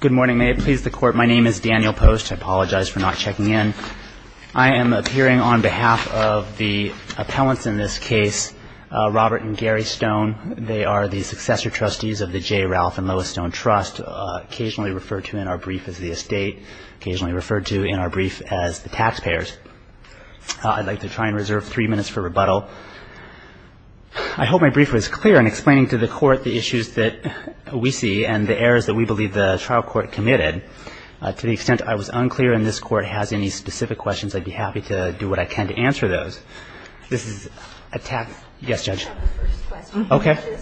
Good morning, may it please the Court, my name is Daniel Post, I apologize for not checking in. I am appearing on behalf of the appellants in this case, Robert and Gary Stone. They are the successor trustees of the J. Ralph and Lois Stone Trust, occasionally referred to in our brief as the estate, occasionally referred to in our brief as the taxpayers. I'd like to try and reserve three minutes for rebuttal. I hope my brief was clear in explaining to the Court the issues that we see and the errors that we believe the trial court committed. To the extent I was unclear and this Court has any specific questions, I'd be happy to do what I can to answer those. This is a tax, yes, Judge. Okay.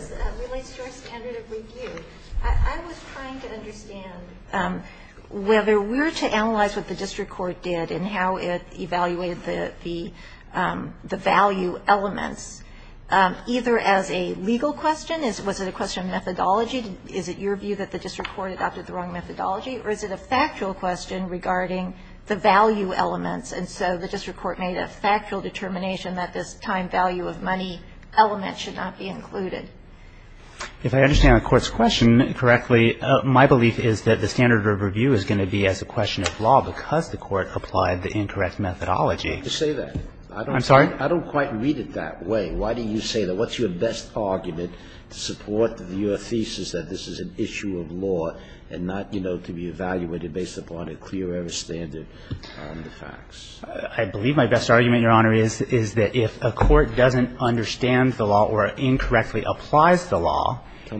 I was trying to understand whether we were to analyze what the district court did and how it evaluated the value elements, either as a legal question, was it a question of methodology, is it your view that the district court adopted the wrong methodology, or is it a factual question regarding the value elements, and so the district court made a factual determination that this time value of money element should not be included? If I understand the Court's question correctly, my belief is that the standard of review is going to be as a question of law because the Court applied the incorrect methodology. I don't quite read it that way. Why do you say that? What's your best argument to support your thesis that this is an issue of law and not, you know, to be evaluated based upon a clear error standard on the facts? I believe my best argument, Your Honor, is that if a court doesn't understand the law or incorrectly applies the law Tell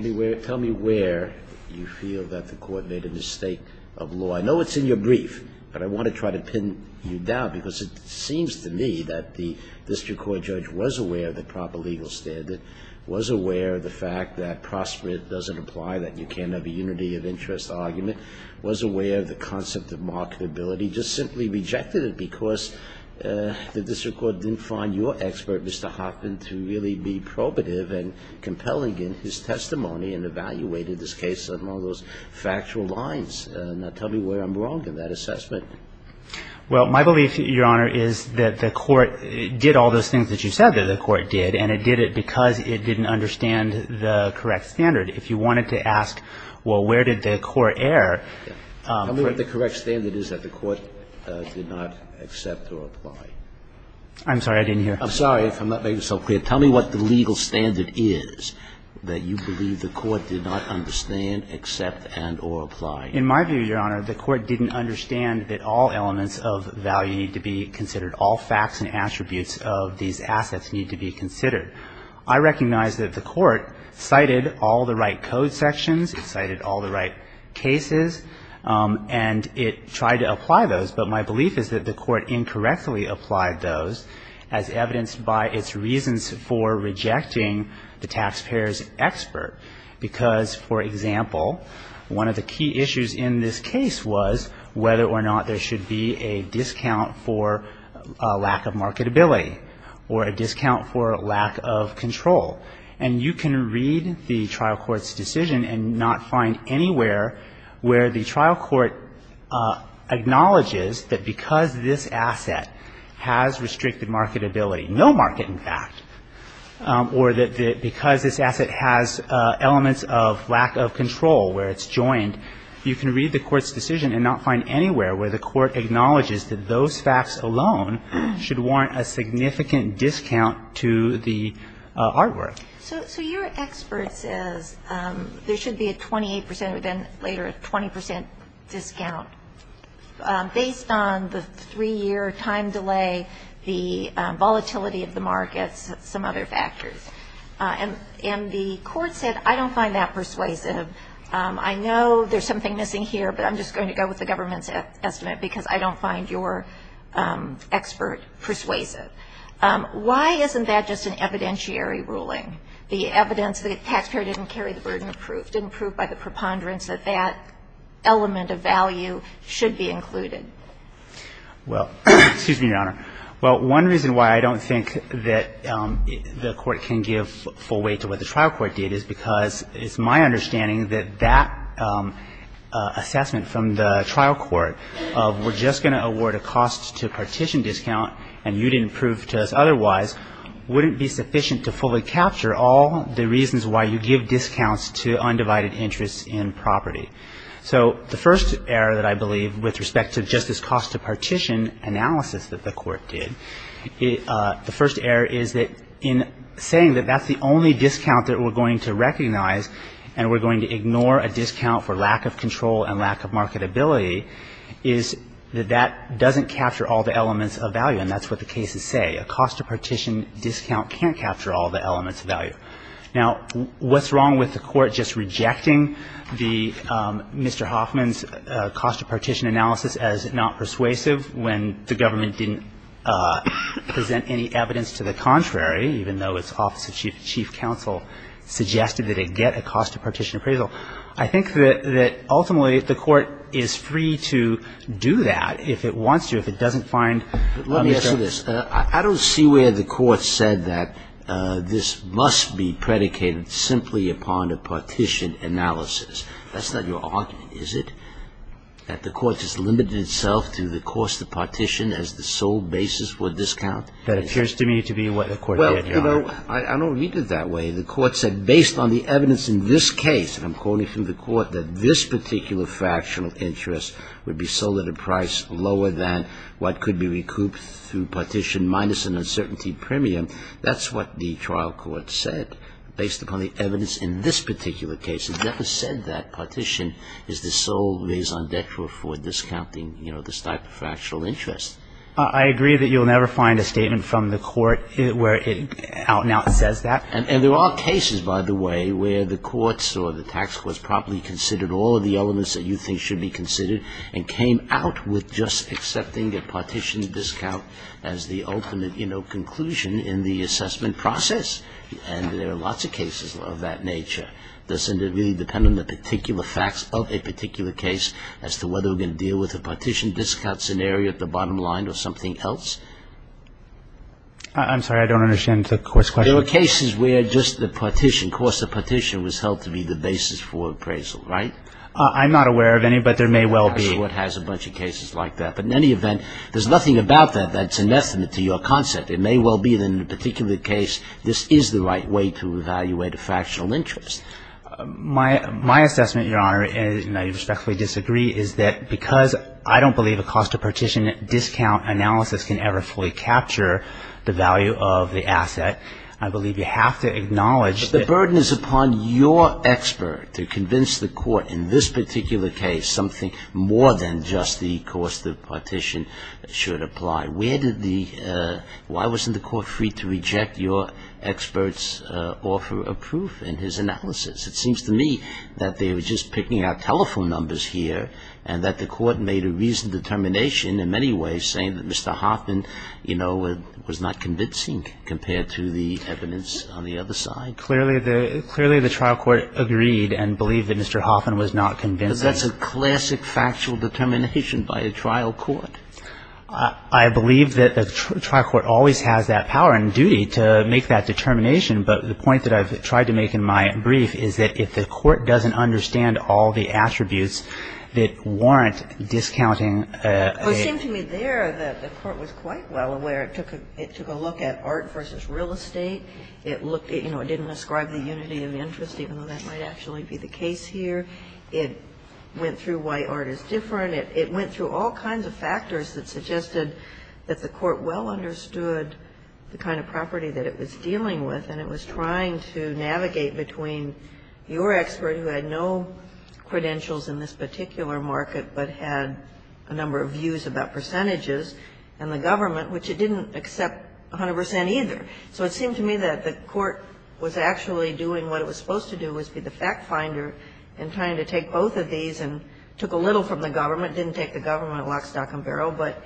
me where you feel that the Court made a mistake of law. I know it's in your brief, but I want to try to pin you down because it seems to me that the district court judge was aware of the proper standard, was aware of the fact that prosperity doesn't apply, that you can't have a unity of interest argument, was aware of the concept of marketability, just simply rejected it because the district court didn't find your expert, Mr. Hoffman, to really be probative and compelling in his testimony and evaluated this case along those factual lines. Now tell me where I'm wrong in that assessment. Well, my belief, Your Honor, is that the Court did all those things that you said that the Court did, and it did it because it didn't understand the correct standard. If you wanted to ask, well, where did the Court err? Tell me what the correct standard is that the Court did not accept or apply. I'm sorry, I didn't hear. I'm sorry if I'm not making myself clear. Tell me what the legal standard is that you believe the Court did not understand, accept, and or apply. In my view, Your Honor, the Court didn't understand that all elements of value need to be considered. All facts and attributes of these assets need to be considered. I recognize that the Court cited all the right code sections, cited all the right cases, and it tried to apply those. But my belief is that the Court incorrectly applied those as evidenced by its reasons for rejecting the taxpayer's expert, because, for example, one of the key issues in this case was whether or not there should be a discount for lack of marketability or a discount for lack of control. And you can read the trial court's decision and not find anywhere where the trial court acknowledges that because this asset has restricted marketability, no market, in fact, or that because this asset has limited marketability, there are elements of lack of control where it's joined. You can read the court's decision and not find anywhere where the court acknowledges that those facts alone should warrant a significant discount to the artwork. So your expert says there should be a 28 percent, but then later a 20 percent discount based on the three-year time delay, the volatility of the markets, some other factors. And the Court said, I don't find that persuasive. I know there's something missing here, but I'm just going to go with the government's estimate, because I don't find your expert persuasive. Why isn't that just an evidentiary ruling, the evidence that the taxpayer didn't carry the burden of proof, didn't prove by the preponderance Well, the reason I think that the Court can give full weight to what the trial court did is because it's my understanding that that assessment from the trial court of we're just going to award a cost to partition discount and you didn't prove to us otherwise wouldn't be sufficient to fully capture all the reasons why you give discounts to undivided interests in property. So the first error that I believe with respect to just this cost to partition analysis that the Court did, the first error is that in saying that that's the only discount that we're going to recognize and we're going to ignore a discount for lack of control and lack of marketability is that that doesn't capture all the elements of value. And that's what the cases say. A cost to partition discount can't capture all the elements of value. Now, what's wrong with the Court just rejecting Mr. Hoffman's cost to partition analysis as not persuasive when the government didn't present any evidence to the contrary, even though its office of chief counsel suggested that it get a cost to partition appraisal. I think that ultimately the Court is free to do that if it wants to, if it doesn't find, let me start with this. I don't see where the Court said that this must be predicated simply upon a partition analysis. That's not your argument, is it? That the Court just limited itself to the cost to partition as the sole basis for discount? That appears to me to be what the Court did. You know, I don't read it that way. The Court said, based on the evidence in this case, and I'm quoting from the Court, that this particular fractional interest would be sold at a price lower than what could be recouped through partition minus an uncertainty premium. That's what the trial court said, based upon the evidence in this particular case. It never said that partition is the sole raison d'etre for discounting, you know, this type of fractional interest. I agree that you'll never find a statement from the Court where it out and out says that. And there are cases, by the way, where the courts or the tax courts properly considered all of the elements that you think should be considered and came out with just accepting a partition discount as the ultimate, you know, conclusion in the assessment process. And there are lots of cases of that nature. Does it really depend on the particular facts of a particular case as to whether we're going to deal with a partition discount scenario at the bottom line or something else? I'm sorry. I don't understand the court's question. There are cases where just the partition, course of partition was held to be the basis for appraisal, right? I'm not aware of any, but there may well be. The court has a bunch of cases like that. But in any event, there's nothing about that that's an estimate to your concept. It may well be that in a particular case, this is the right way to evaluate a fractional interest. My assessment, Your Honor, and I respectfully disagree, is that because I don't believe a cost of partition discount analysis can ever fully capture the value of the asset, I believe you have to acknowledge that the burden is upon your expert to convince the court in this particular case something more than just the cost of partition should apply. Where did the why wasn't the court free to reject your expert's offer of proof in his analysis? It seems to me that they were just picking out telephone numbers here and that the court made a reasoned determination in many ways saying that Mr. Hoffman, you know, was not convincing compared to the evidence on the other side. Clearly the trial court agreed and believed that Mr. Hoffman was not convincing. But that's a classic factual determination by a trial court. I believe that a trial court always has that power and duty to make that determination. But the point that I've tried to make in my brief is that if the court doesn't understand all the attributes that warrant discounting a ---- Well, it seemed to me there that the court was quite well aware. It took a look at art versus real estate. It looked at, you know, it didn't ascribe the unity of interest, even though that might actually be the case here. It went through why art is different. It went through all kinds of factors that suggested that the court well understood the kind of property that it was dealing with. And it was trying to navigate between your expert, who had no credentials in this particular market, but had a number of views about percentages, and the government, which it didn't accept 100 percent either. So it seemed to me that the court was actually doing what it was supposed to do, was be the fact finder in trying to take both of these and took a little from the government, didn't take the government lock, stock and barrel, but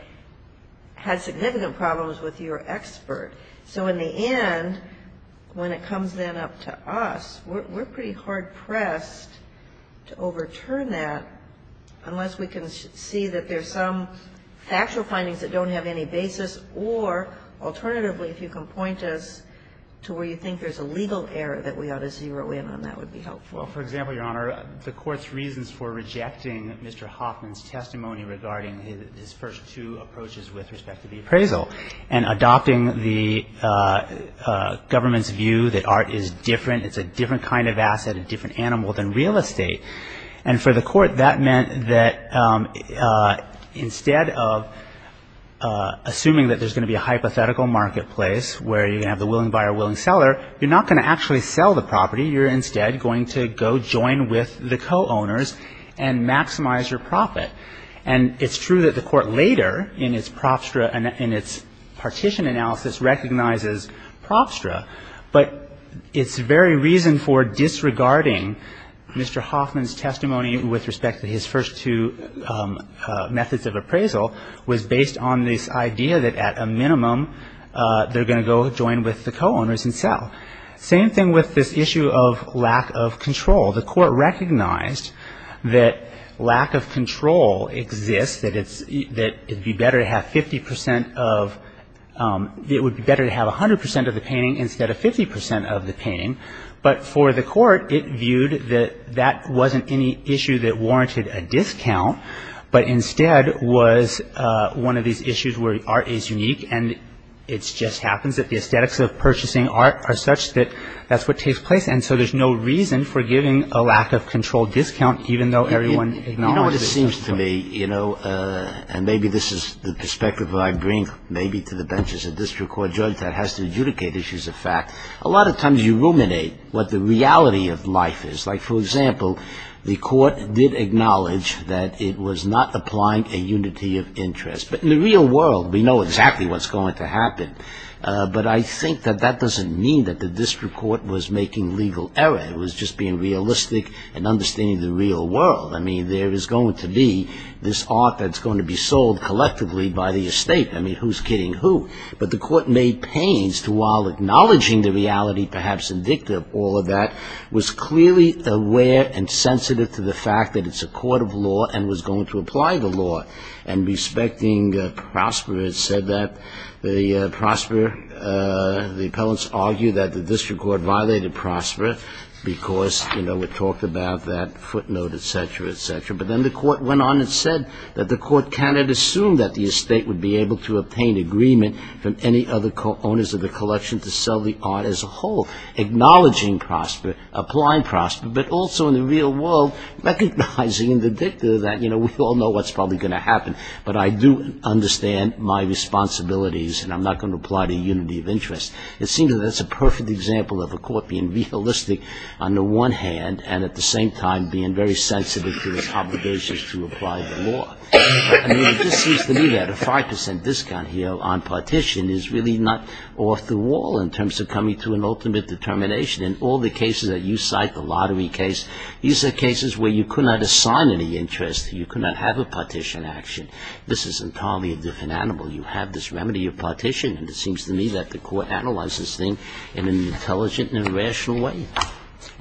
had significant problems with your expert. So in the end, when it comes then up to us, we're pretty hard-pressed to overturn that unless we can see that there's some factual findings that don't have any basis, or alternatively, if you can point us to where you think there's a legal error that we ought to zero in on, that would be helpful. Well, for example, Your Honor, the court's reasons for rejecting Mr. Hoffman's testimony regarding his first two approaches with respect to the appraisal, and adopting the government's view that art is different, it's a different kind of asset, a different animal than real estate. And for the court, that meant that instead of assuming that there's going to be a hypothetical marketplace where you're going to have the willing buyer, willing seller, you're not going to actually sell the property. You're instead going to go join with the co-owners and maximize your profit. And it's true that the court later in its Propstra and its partition analysis recognizes Propstra, but its very reason for disregarding Mr. Hoffman's testimony with respect to his first two methods of appraisal was based on this idea that at a minimum they're going to go join with the co-owners and sell. Same thing with this issue of lack of control. The court recognized that lack of control exists, that it would be better to have 50 percent of it would be better to have 100 percent of the painting instead of 50 percent of the painting. But for the court, it viewed that that wasn't any issue that warranted a discount, but instead was one of these issues where art is unique, and it just happens that the aesthetics of purchasing art are such that that's what takes place. And so there's no reason for giving a lack of control discount, even though everyone acknowledges it. You know what it seems to me, and maybe this is the perspective I bring maybe to the benches of this court, judges that has to adjudicate issues of fact, a lot of times you ruminate what the reality of life is. Like, for example, the court did acknowledge that it was not applying a unity of interest. But in the real world, we know exactly what's going to happen. But I think that that doesn't mean that the district court was making legal error. It was just being realistic and understanding the real world. I mean, there is going to be this art that's going to be sold collectively by the estate. I mean, who's kidding who? But the court made pains to while acknowledging the reality, perhaps indicative of all of that, was clearly aware and sensitive to the fact that it's a court of law and was going to apply the law and respecting Prosper. It said that the Prosper, the appellants argued that the district court violated Prosper because, you know, we talked about that footnote, et cetera, et cetera. But then the court went on and said that the court cannot assume that the estate would be able to obtain agreement from any other owners of the collection to sell the art as a whole, acknowledging Prosper, applying Prosper, but also in the real world recognizing the dicta that, you know, we all know what's probably going to happen, but I do understand my responsibilities and I'm not going to apply to unity of interest. It seems that that's a perfect example of a court being realistic on the one hand and at the same time being very sensitive to its obligations to apply the law. I mean, it just seems to me that a 5% discount here on partition is really not off the wall in terms of coming to an ultimate determination. In all the cases that you cite, the lottery case, these are cases where you could not assign any interest, you could not have a partition action. This is entirely a different animal. You have this remedy of partition and it seems to me that the court analyzes this thing in an intelligent and rational way.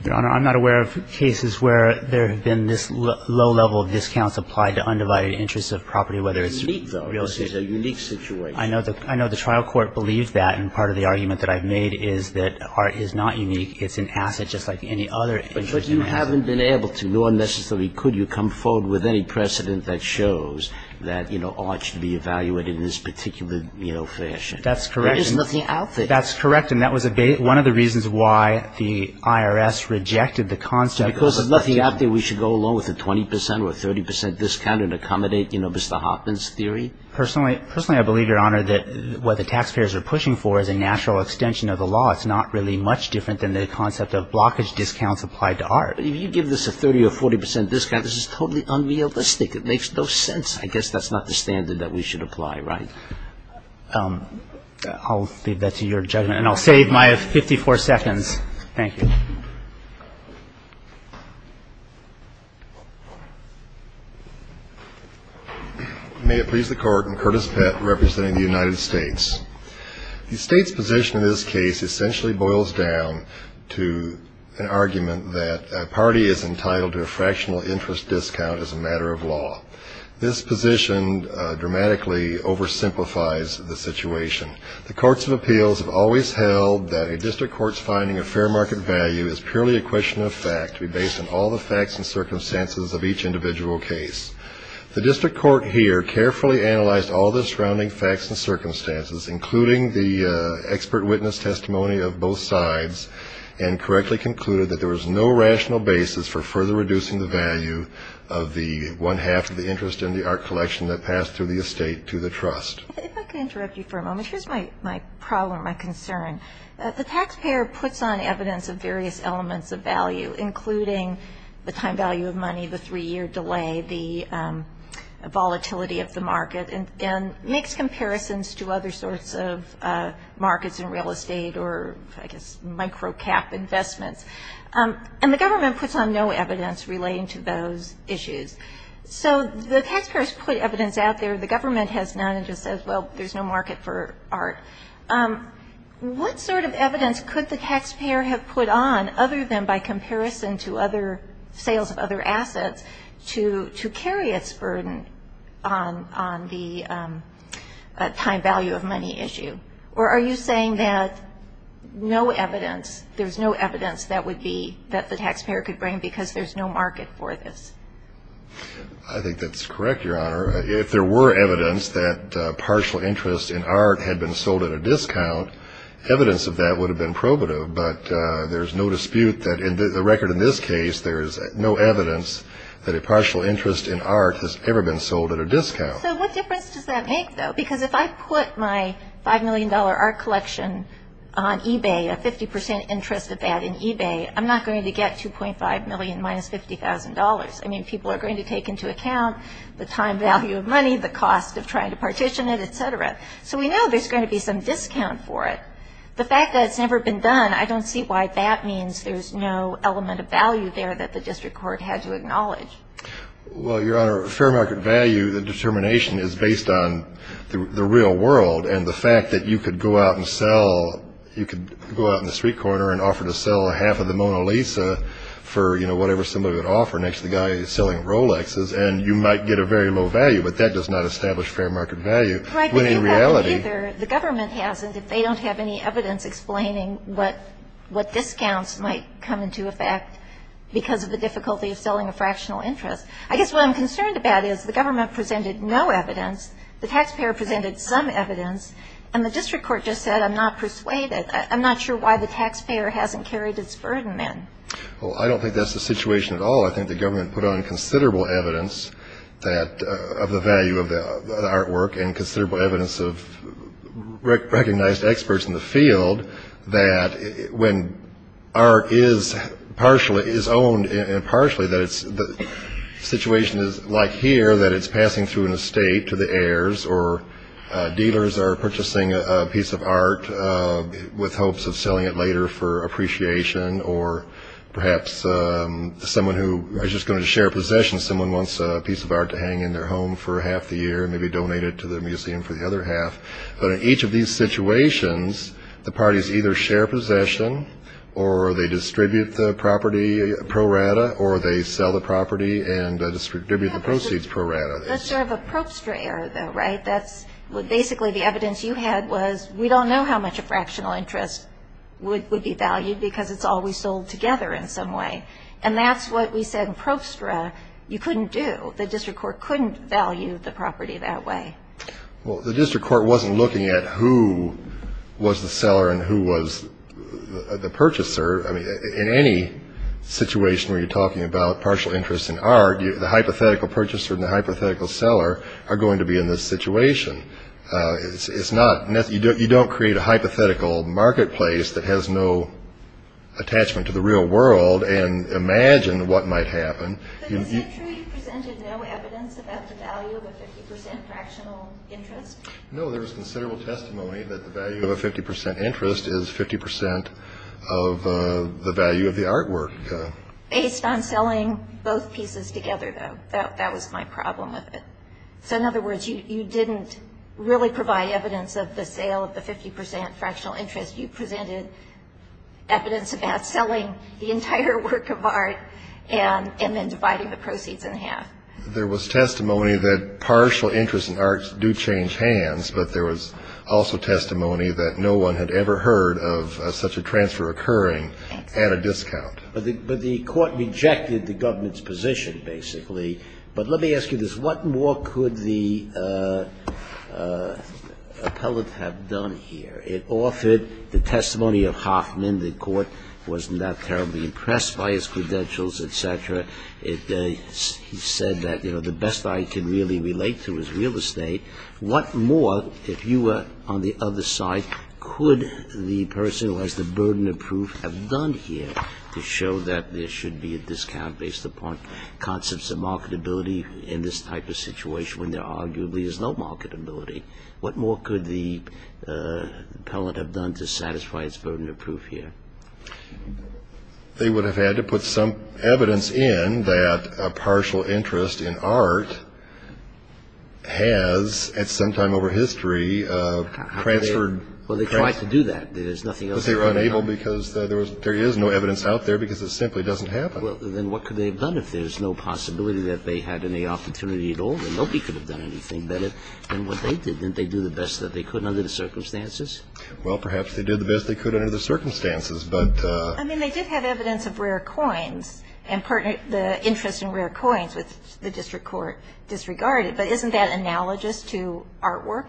Your Honor, I'm not aware of cases where there have been this low level of discounts applied to undivided interests of property, whether it's real estate. It's unique, though. It's a unique situation. I know the trial court believes that and part of the argument that I've made is that this part is not unique. It's an asset just like any other interest. But you haven't been able to nor necessarily could you come forward with any precedent that shows that, you know, all should be evaluated in this particular, you know, fashion. That's correct. There is nothing out there. That's correct and that was one of the reasons why the IRS rejected the concept. Because there's nothing out there, we should go along with the 20% or 30% discount and accommodate, you know, Mr. Hoffman's theory? Personally, I believe, Your Honor, that what the taxpayers are pushing for is a natural extension of the law. It's not really much different than the concept of blockage discounts applied to art. If you give this a 30% or 40% discount, this is totally unrealistic. It makes no sense. I guess that's not the standard that we should apply, right? I'll leave that to your judgment and I'll save my 54 seconds. Thank you. May it please the Court, I'm Curtis Pett representing the United States. The state's position in this case essentially boils down to an argument that a party is entitled to a fractional interest discount as a matter of law. This position dramatically oversimplifies the situation. The courts of appeals have always held that a district court's finding of fair market value is purely a question of fact to be based on all the facts and circumstances of each individual case. The district court here carefully analyzed all the surrounding facts and circumstances, including the expert witness testimony of both sides, and correctly concluded that there was no rational basis for further reducing the value of the one half of the interest in the art collection that passed through the estate to the trust. If I could interrupt you for a moment. Here's my problem, my concern. The taxpayer puts on evidence of various elements of value, including the time value of money, the three-year delay, the volatility of the market, and makes comparisons to other sorts of markets in real estate or, I guess, micro-cap investments. And the government puts on no evidence relating to those issues. So the taxpayers put evidence out there. The government has none and just says, well, there's no market for art. What sort of evidence could the taxpayer have put on, other than by comparison to other sales of other assets, to carry its burden on the time value of money issue? Or are you saying that no evidence, there's no evidence that would be that the taxpayer could bring because there's no market for this? I think that's correct, Your Honor. If there were evidence that partial interest in art had been sold at a discount, evidence of that would have been probative. But there's no dispute that in the record in this case, there is no evidence that a partial interest in art has ever been sold at a discount. So what difference does that make, though? Because if I put my $5 million art collection on eBay, a 50 percent interest of that in eBay, I'm not going to get $2.5 million minus $50,000. I mean, people are going to take into account the time value of money, the cost of trying to partition it, et cetera. So we know there's going to be some discount for it. The fact that it's never been done, I don't see why that means there's no element of value there that the district court had to acknowledge. Well, Your Honor, fair market value, the determination is based on the real world, and the fact that you could go out and sell, you could go out in the street corner and offer to sell half of the Mona Lisa for, you know, whatever somebody would offer next to the guy selling Rolexes, and you might get a very low value, but that does not establish fair market value. Right, but you have neither. The government hasn't. If they don't have any evidence explaining what discounts might come into effect because of the difficulty of selling a fractional interest. I guess what I'm concerned about is the government presented no evidence, the taxpayer presented some evidence, and the district court just said, I'm not persuaded, I'm not sure why the taxpayer hasn't carried its burden in. Well, I don't think that's the situation at all. I think the government put on considerable evidence of the value of the artwork and considerable evidence of recognized experts in the field that when art is owned and partially, the situation is like here that it's passing through an estate to the heirs or dealers are purchasing a piece of art with hopes of selling it later for appreciation or perhaps someone who is just going to share a possession, someone wants a piece of art to hang in their home for half the year, maybe donate it to the museum for the other half. But in each of these situations, the parties either share possession or they distribute the property pro rata or they sell the property and distribute the proceeds pro rata. That's sort of a probester error though, right? That's basically the evidence you had was we don't know how much a fractional interest would be valued because it's all we sold together in some way. And that's what we said probester error you couldn't do. The district court couldn't value the property that way. Well, the district court wasn't looking at who was the seller and who was the purchaser. I mean, in any situation where you're talking about partial interest in art, the hypothetical purchaser and the hypothetical seller are going to be in this situation. You don't create a hypothetical marketplace that has no attachment to the real world and imagine what might happen. But is it true you presented no evidence about the value of a 50% fractional interest? No, there was considerable testimony that the value of a 50% interest is 50% of the value of the artwork. Based on selling both pieces together though, that was my problem with it. So, in other words, you didn't really provide evidence of the sale of the 50% fractional interest. You presented evidence about selling the entire work of art and then dividing the proceeds in half. There was testimony that partial interest in arts do change hands, but there was also testimony that no one had ever heard of such a transfer occurring at a discount. But the court rejected the government's position, basically. But let me ask you this. What more could the appellate have done here? It offered the testimony of Hoffman. The court was not terribly impressed by his credentials, et cetera. He said that, you know, the best I can really relate to is real estate. What more, if you were on the other side, could the person who has the burden of proof have done here to show that there should be a discount based upon concepts of marketability in this type of situation when there arguably is no marketability? What more could the appellate have done to satisfy his burden of proof here? They would have had to put some evidence in that a partial interest in art has, at some time over history, transferred. Well, they tried to do that. There's nothing else they could have done. But they were unable because there is no evidence out there because it simply doesn't happen. Well, then what could they have done if there's no possibility that they had any opportunity at all? Nobody could have done anything better than what they did. Didn't they do the best that they could under the circumstances? Well, perhaps they did the best they could under the circumstances. I mean, they did have evidence of rare coins and the interest in rare coins, which the district court disregarded. But isn't that analogous to artwork?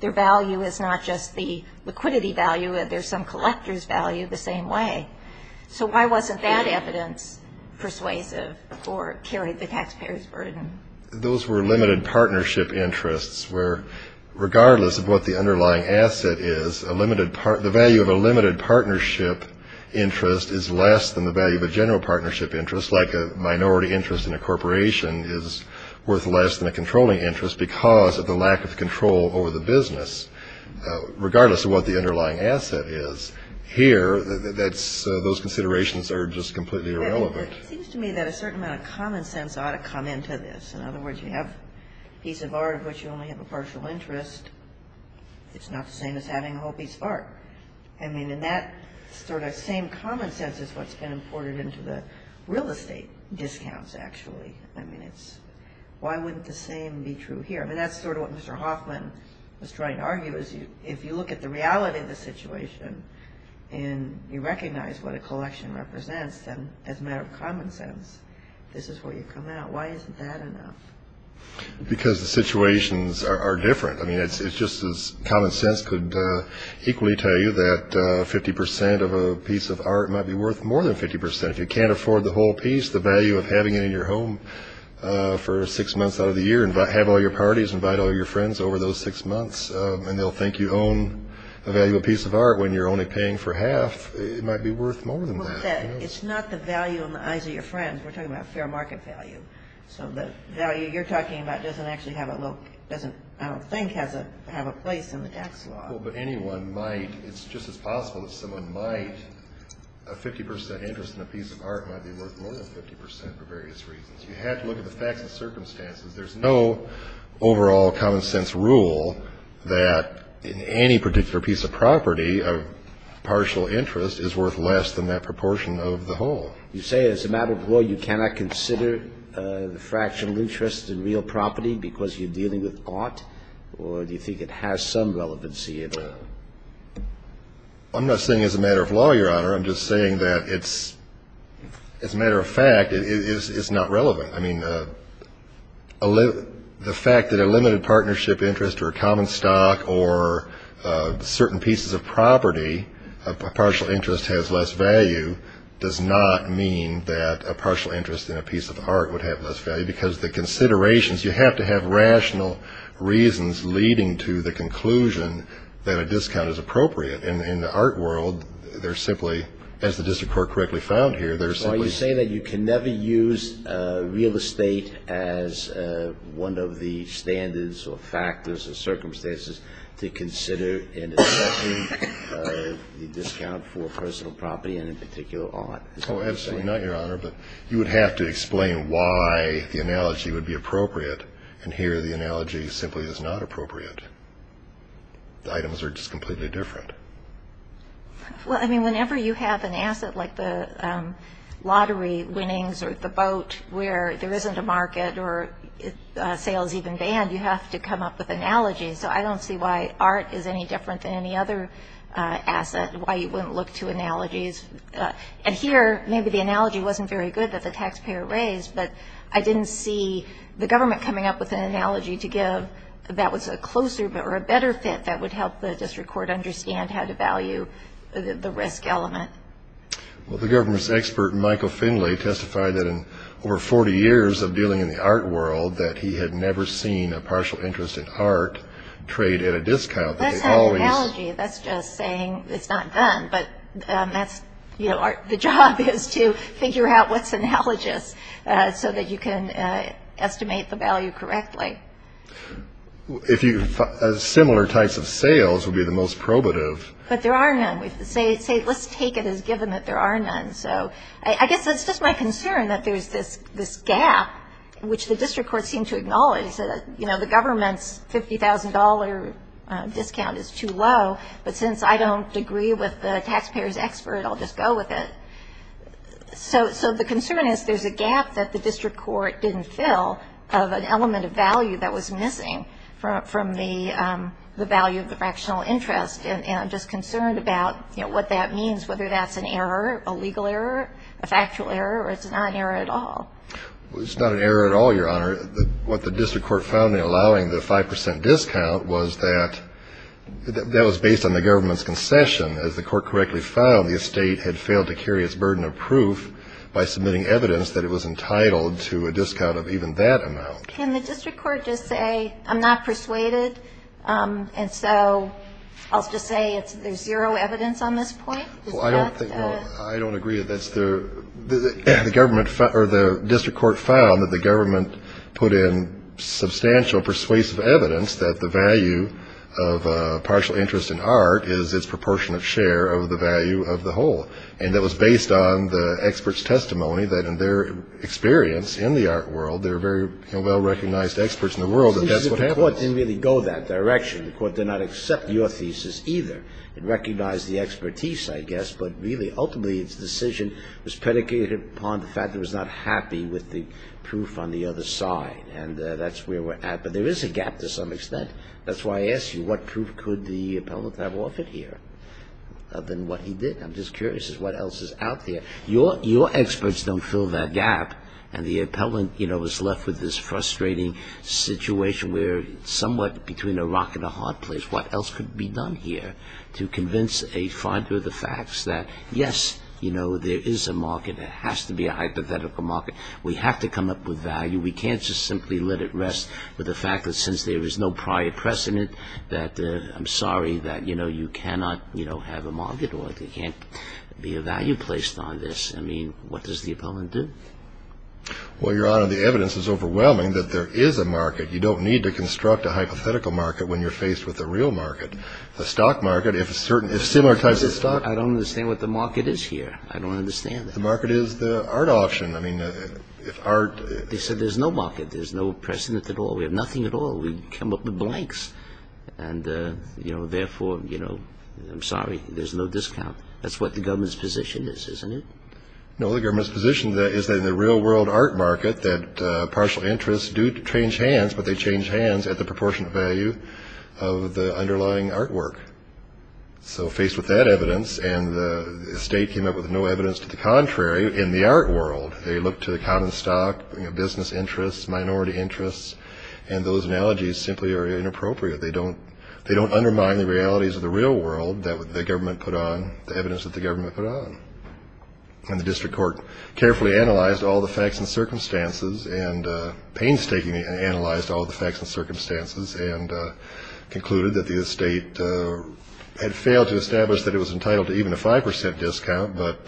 Their value is not just the liquidity value. There's some collector's value the same way. So why wasn't that evidence persuasive or carried the taxpayer's burden? Those were limited partnership interests where, regardless of what the underlying asset is, the value of a limited partnership interest is less than the value of a general partnership interest, like a minority interest in a corporation is worth less than a controlling interest because of the lack of control over the business. Regardless of what the underlying asset is, here, that's those considerations are just completely irrelevant. It seems to me that a certain amount of common sense ought to come into this. In other words, you have a piece of art of which you only have a partial interest. It's not the same as having a whole piece of art. I mean, in that sort of same common sense is what's been imported into the real estate discounts, actually. I mean, it's why wouldn't the same be true here? I mean, that's sort of what Mr. Hoffman was trying to argue is if you look at the reality of the situation and you recognize what a collection represents, then as a matter of common sense, this is where you come out. Why isn't that enough? Because the situations are different. I mean, it's just as common sense could equally tell you that 50 percent of a piece of art might be worth more than 50 percent. If you can't afford the whole piece, the value of having it in your home for six months out of the year, have all your parties, invite all your friends over those six months, and they'll think you own a valuable piece of art when you're only paying for half, it might be worth more than that. It's not the value in the eyes of your friends. We're talking about fair market value. So the value you're talking about doesn't actually have a place in the tax law. It's possible that anyone might, it's just as possible that someone might, a 50 percent interest in a piece of art might be worth more than 50 percent for various reasons. You have to look at the facts and circumstances. There's no overall common sense rule that in any particular piece of property, a partial interest is worth less than that proportion of the whole. You say as a matter of law you cannot consider the fractional interest in real property because you're dealing with art? Or do you think it has some relevancy? I'm not saying as a matter of law, Your Honor. I'm just saying that it's, as a matter of fact, it's not relevant. I mean, the fact that a limited partnership interest or a common stock or certain pieces of property, a partial interest has less value does not mean that a partial interest in a piece of art would have less value because the considerations, you have to have rational reasons leading to the conclusion that a discount is appropriate. In the art world, they're simply, as the district court correctly found here, they're simply. Are you saying that you can never use real estate as one of the standards or factors or circumstances to consider in assessing the discount for personal property and in particular art? Oh, absolutely not, Your Honor. But you would have to explain why the analogy would be appropriate. And here the analogy simply is not appropriate. The items are just completely different. Well, I mean, whenever you have an asset like the lottery winnings or the boat where there isn't a market or sales even banned, you have to come up with analogies. So I don't see why art is any different than any other asset, why you wouldn't look to analogies. And here maybe the analogy wasn't very good that the taxpayer raised, but I didn't see the government coming up with an analogy to give that was a closer or a better fit that would help the district court understand how to value the risk element. Well, the government's expert, Michael Finlay, testified that in over 40 years of dealing in the art world that he had never seen a partial interest in art trade at a discount. That's not an analogy. That's just saying it's not done. But the job is to figure out what's analogous so that you can estimate the value correctly. Similar types of sales would be the most probative. But there are none. Let's take it as given that there are none. So I guess it's just my concern that there's this gap, which the district courts seem to acknowledge, that the government's $50,000 discount is too low. But since I don't agree with the taxpayer's expert, I'll just go with it. So the concern is there's a gap that the district court didn't fill of an element of value that was missing from the value of the fractional interest. And I'm just concerned about what that means, whether that's an error, a legal error, a factual error, or it's not an error at all. It's not an error at all, Your Honor. What the district court found in allowing the 5% discount was that that was based on the government's concession. As the court correctly found, the estate had failed to carry its burden of proof by submitting evidence that it was entitled to a discount of even that amount. Can the district court just say, I'm not persuaded, and so I'll just say there's zero evidence on this point? Well, I don't think, I don't agree that that's the, the government, or the district court found that the government put in substantial persuasive evidence that the value of a partial interest in art is its proportionate share of the value of the whole. And that was based on the expert's testimony that in their experience in the art world, there are very well-recognized experts in the world that that's what happened. The court didn't really go that direction. The court did not accept your thesis either. It recognized the expertise, I guess. But really, ultimately, its decision was predicated upon the fact it was not happy with the proof on the other side. And that's where we're at. But there is a gap to some extent. That's why I asked you, what proof could the appellant have offered here other than what he did? I'm just curious as to what else is out there. Your, your experts don't fill that gap. And the appellant, you know, is left with this frustrating situation where somewhat between a rock and a hard place. What else could be done here to convince a finder of the facts that, yes, you know, there is a market. There has to be a hypothetical market. We have to come up with value. We can't just simply let it rest with the fact that since there is no prior precedent that I'm sorry that, you know, you cannot, you know, have a market or there can't be a value placed on this. I mean, what does the appellant do? Well, Your Honor, the evidence is overwhelming that there is a market. You don't need to construct a hypothetical market when you're faced with a real market. The stock market, if a certain, if similar types of stock. I don't understand what the market is here. I don't understand that. The market is the art option. I mean, if art. They said there's no market. There's no precedent at all. We have nothing at all. We come up with blanks. And, you know, therefore, you know, I'm sorry. There's no discount. That's what the government's position is, isn't it? No, the government's position is that in the real world art market, that partial interests do change hands, but they change hands at the proportionate value of the underlying artwork. So faced with that evidence, and the state came up with no evidence to the contrary in the art world, they looked to the common stock, business interests, minority interests, and those analogies simply are inappropriate. They don't undermine the realities of the real world that the government put on, the evidence that the government put on. And the district court carefully analyzed all the facts and circumstances and painstakingly analyzed all the facts and circumstances and concluded that the state had failed to establish that it was entitled to even a 5% discount, but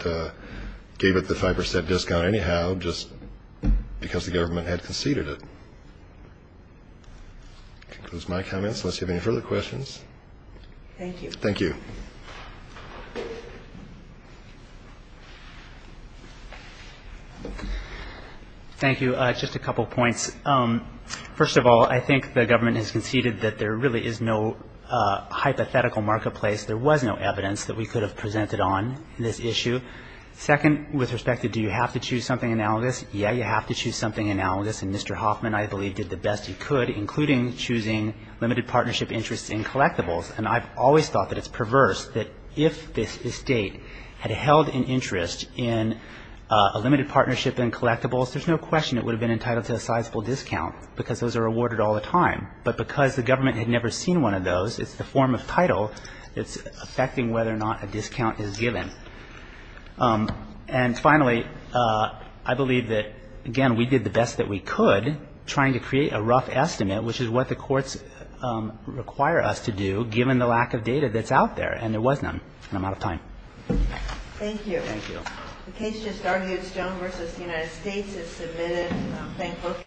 gave it the 5% discount anyhow just because the government had conceded it. That concludes my comments. Thank you. Thank you. Thank you. Thank you. Just a couple points. First of all, I think the government has conceded that there really is no hypothetical marketplace. There was no evidence that we could have presented on this issue. Second, with respect to do you have to choose something analogous, yeah, you have to choose something analogous, and Mr. Hoffman, I believe, did the best he could, including choosing limited partnership interests in collectibles. And I've always thought that it's perverse that if this state had held an interest in a limited partnership in collectibles, there's no question it would have been entitled to a sizable discount because those are awarded all the time. But because the government had never seen one of those, it's the form of title that's affecting whether or not a discount is given. And finally, I believe that, again, we did the best that we could, trying to create a rough estimate, which is what the courts require us to do, given the lack of data that's out there. And there was none. And I'm out of time. Thank you. Thank you. The case just argued Stone v. The United States is submitted. Thank both of you.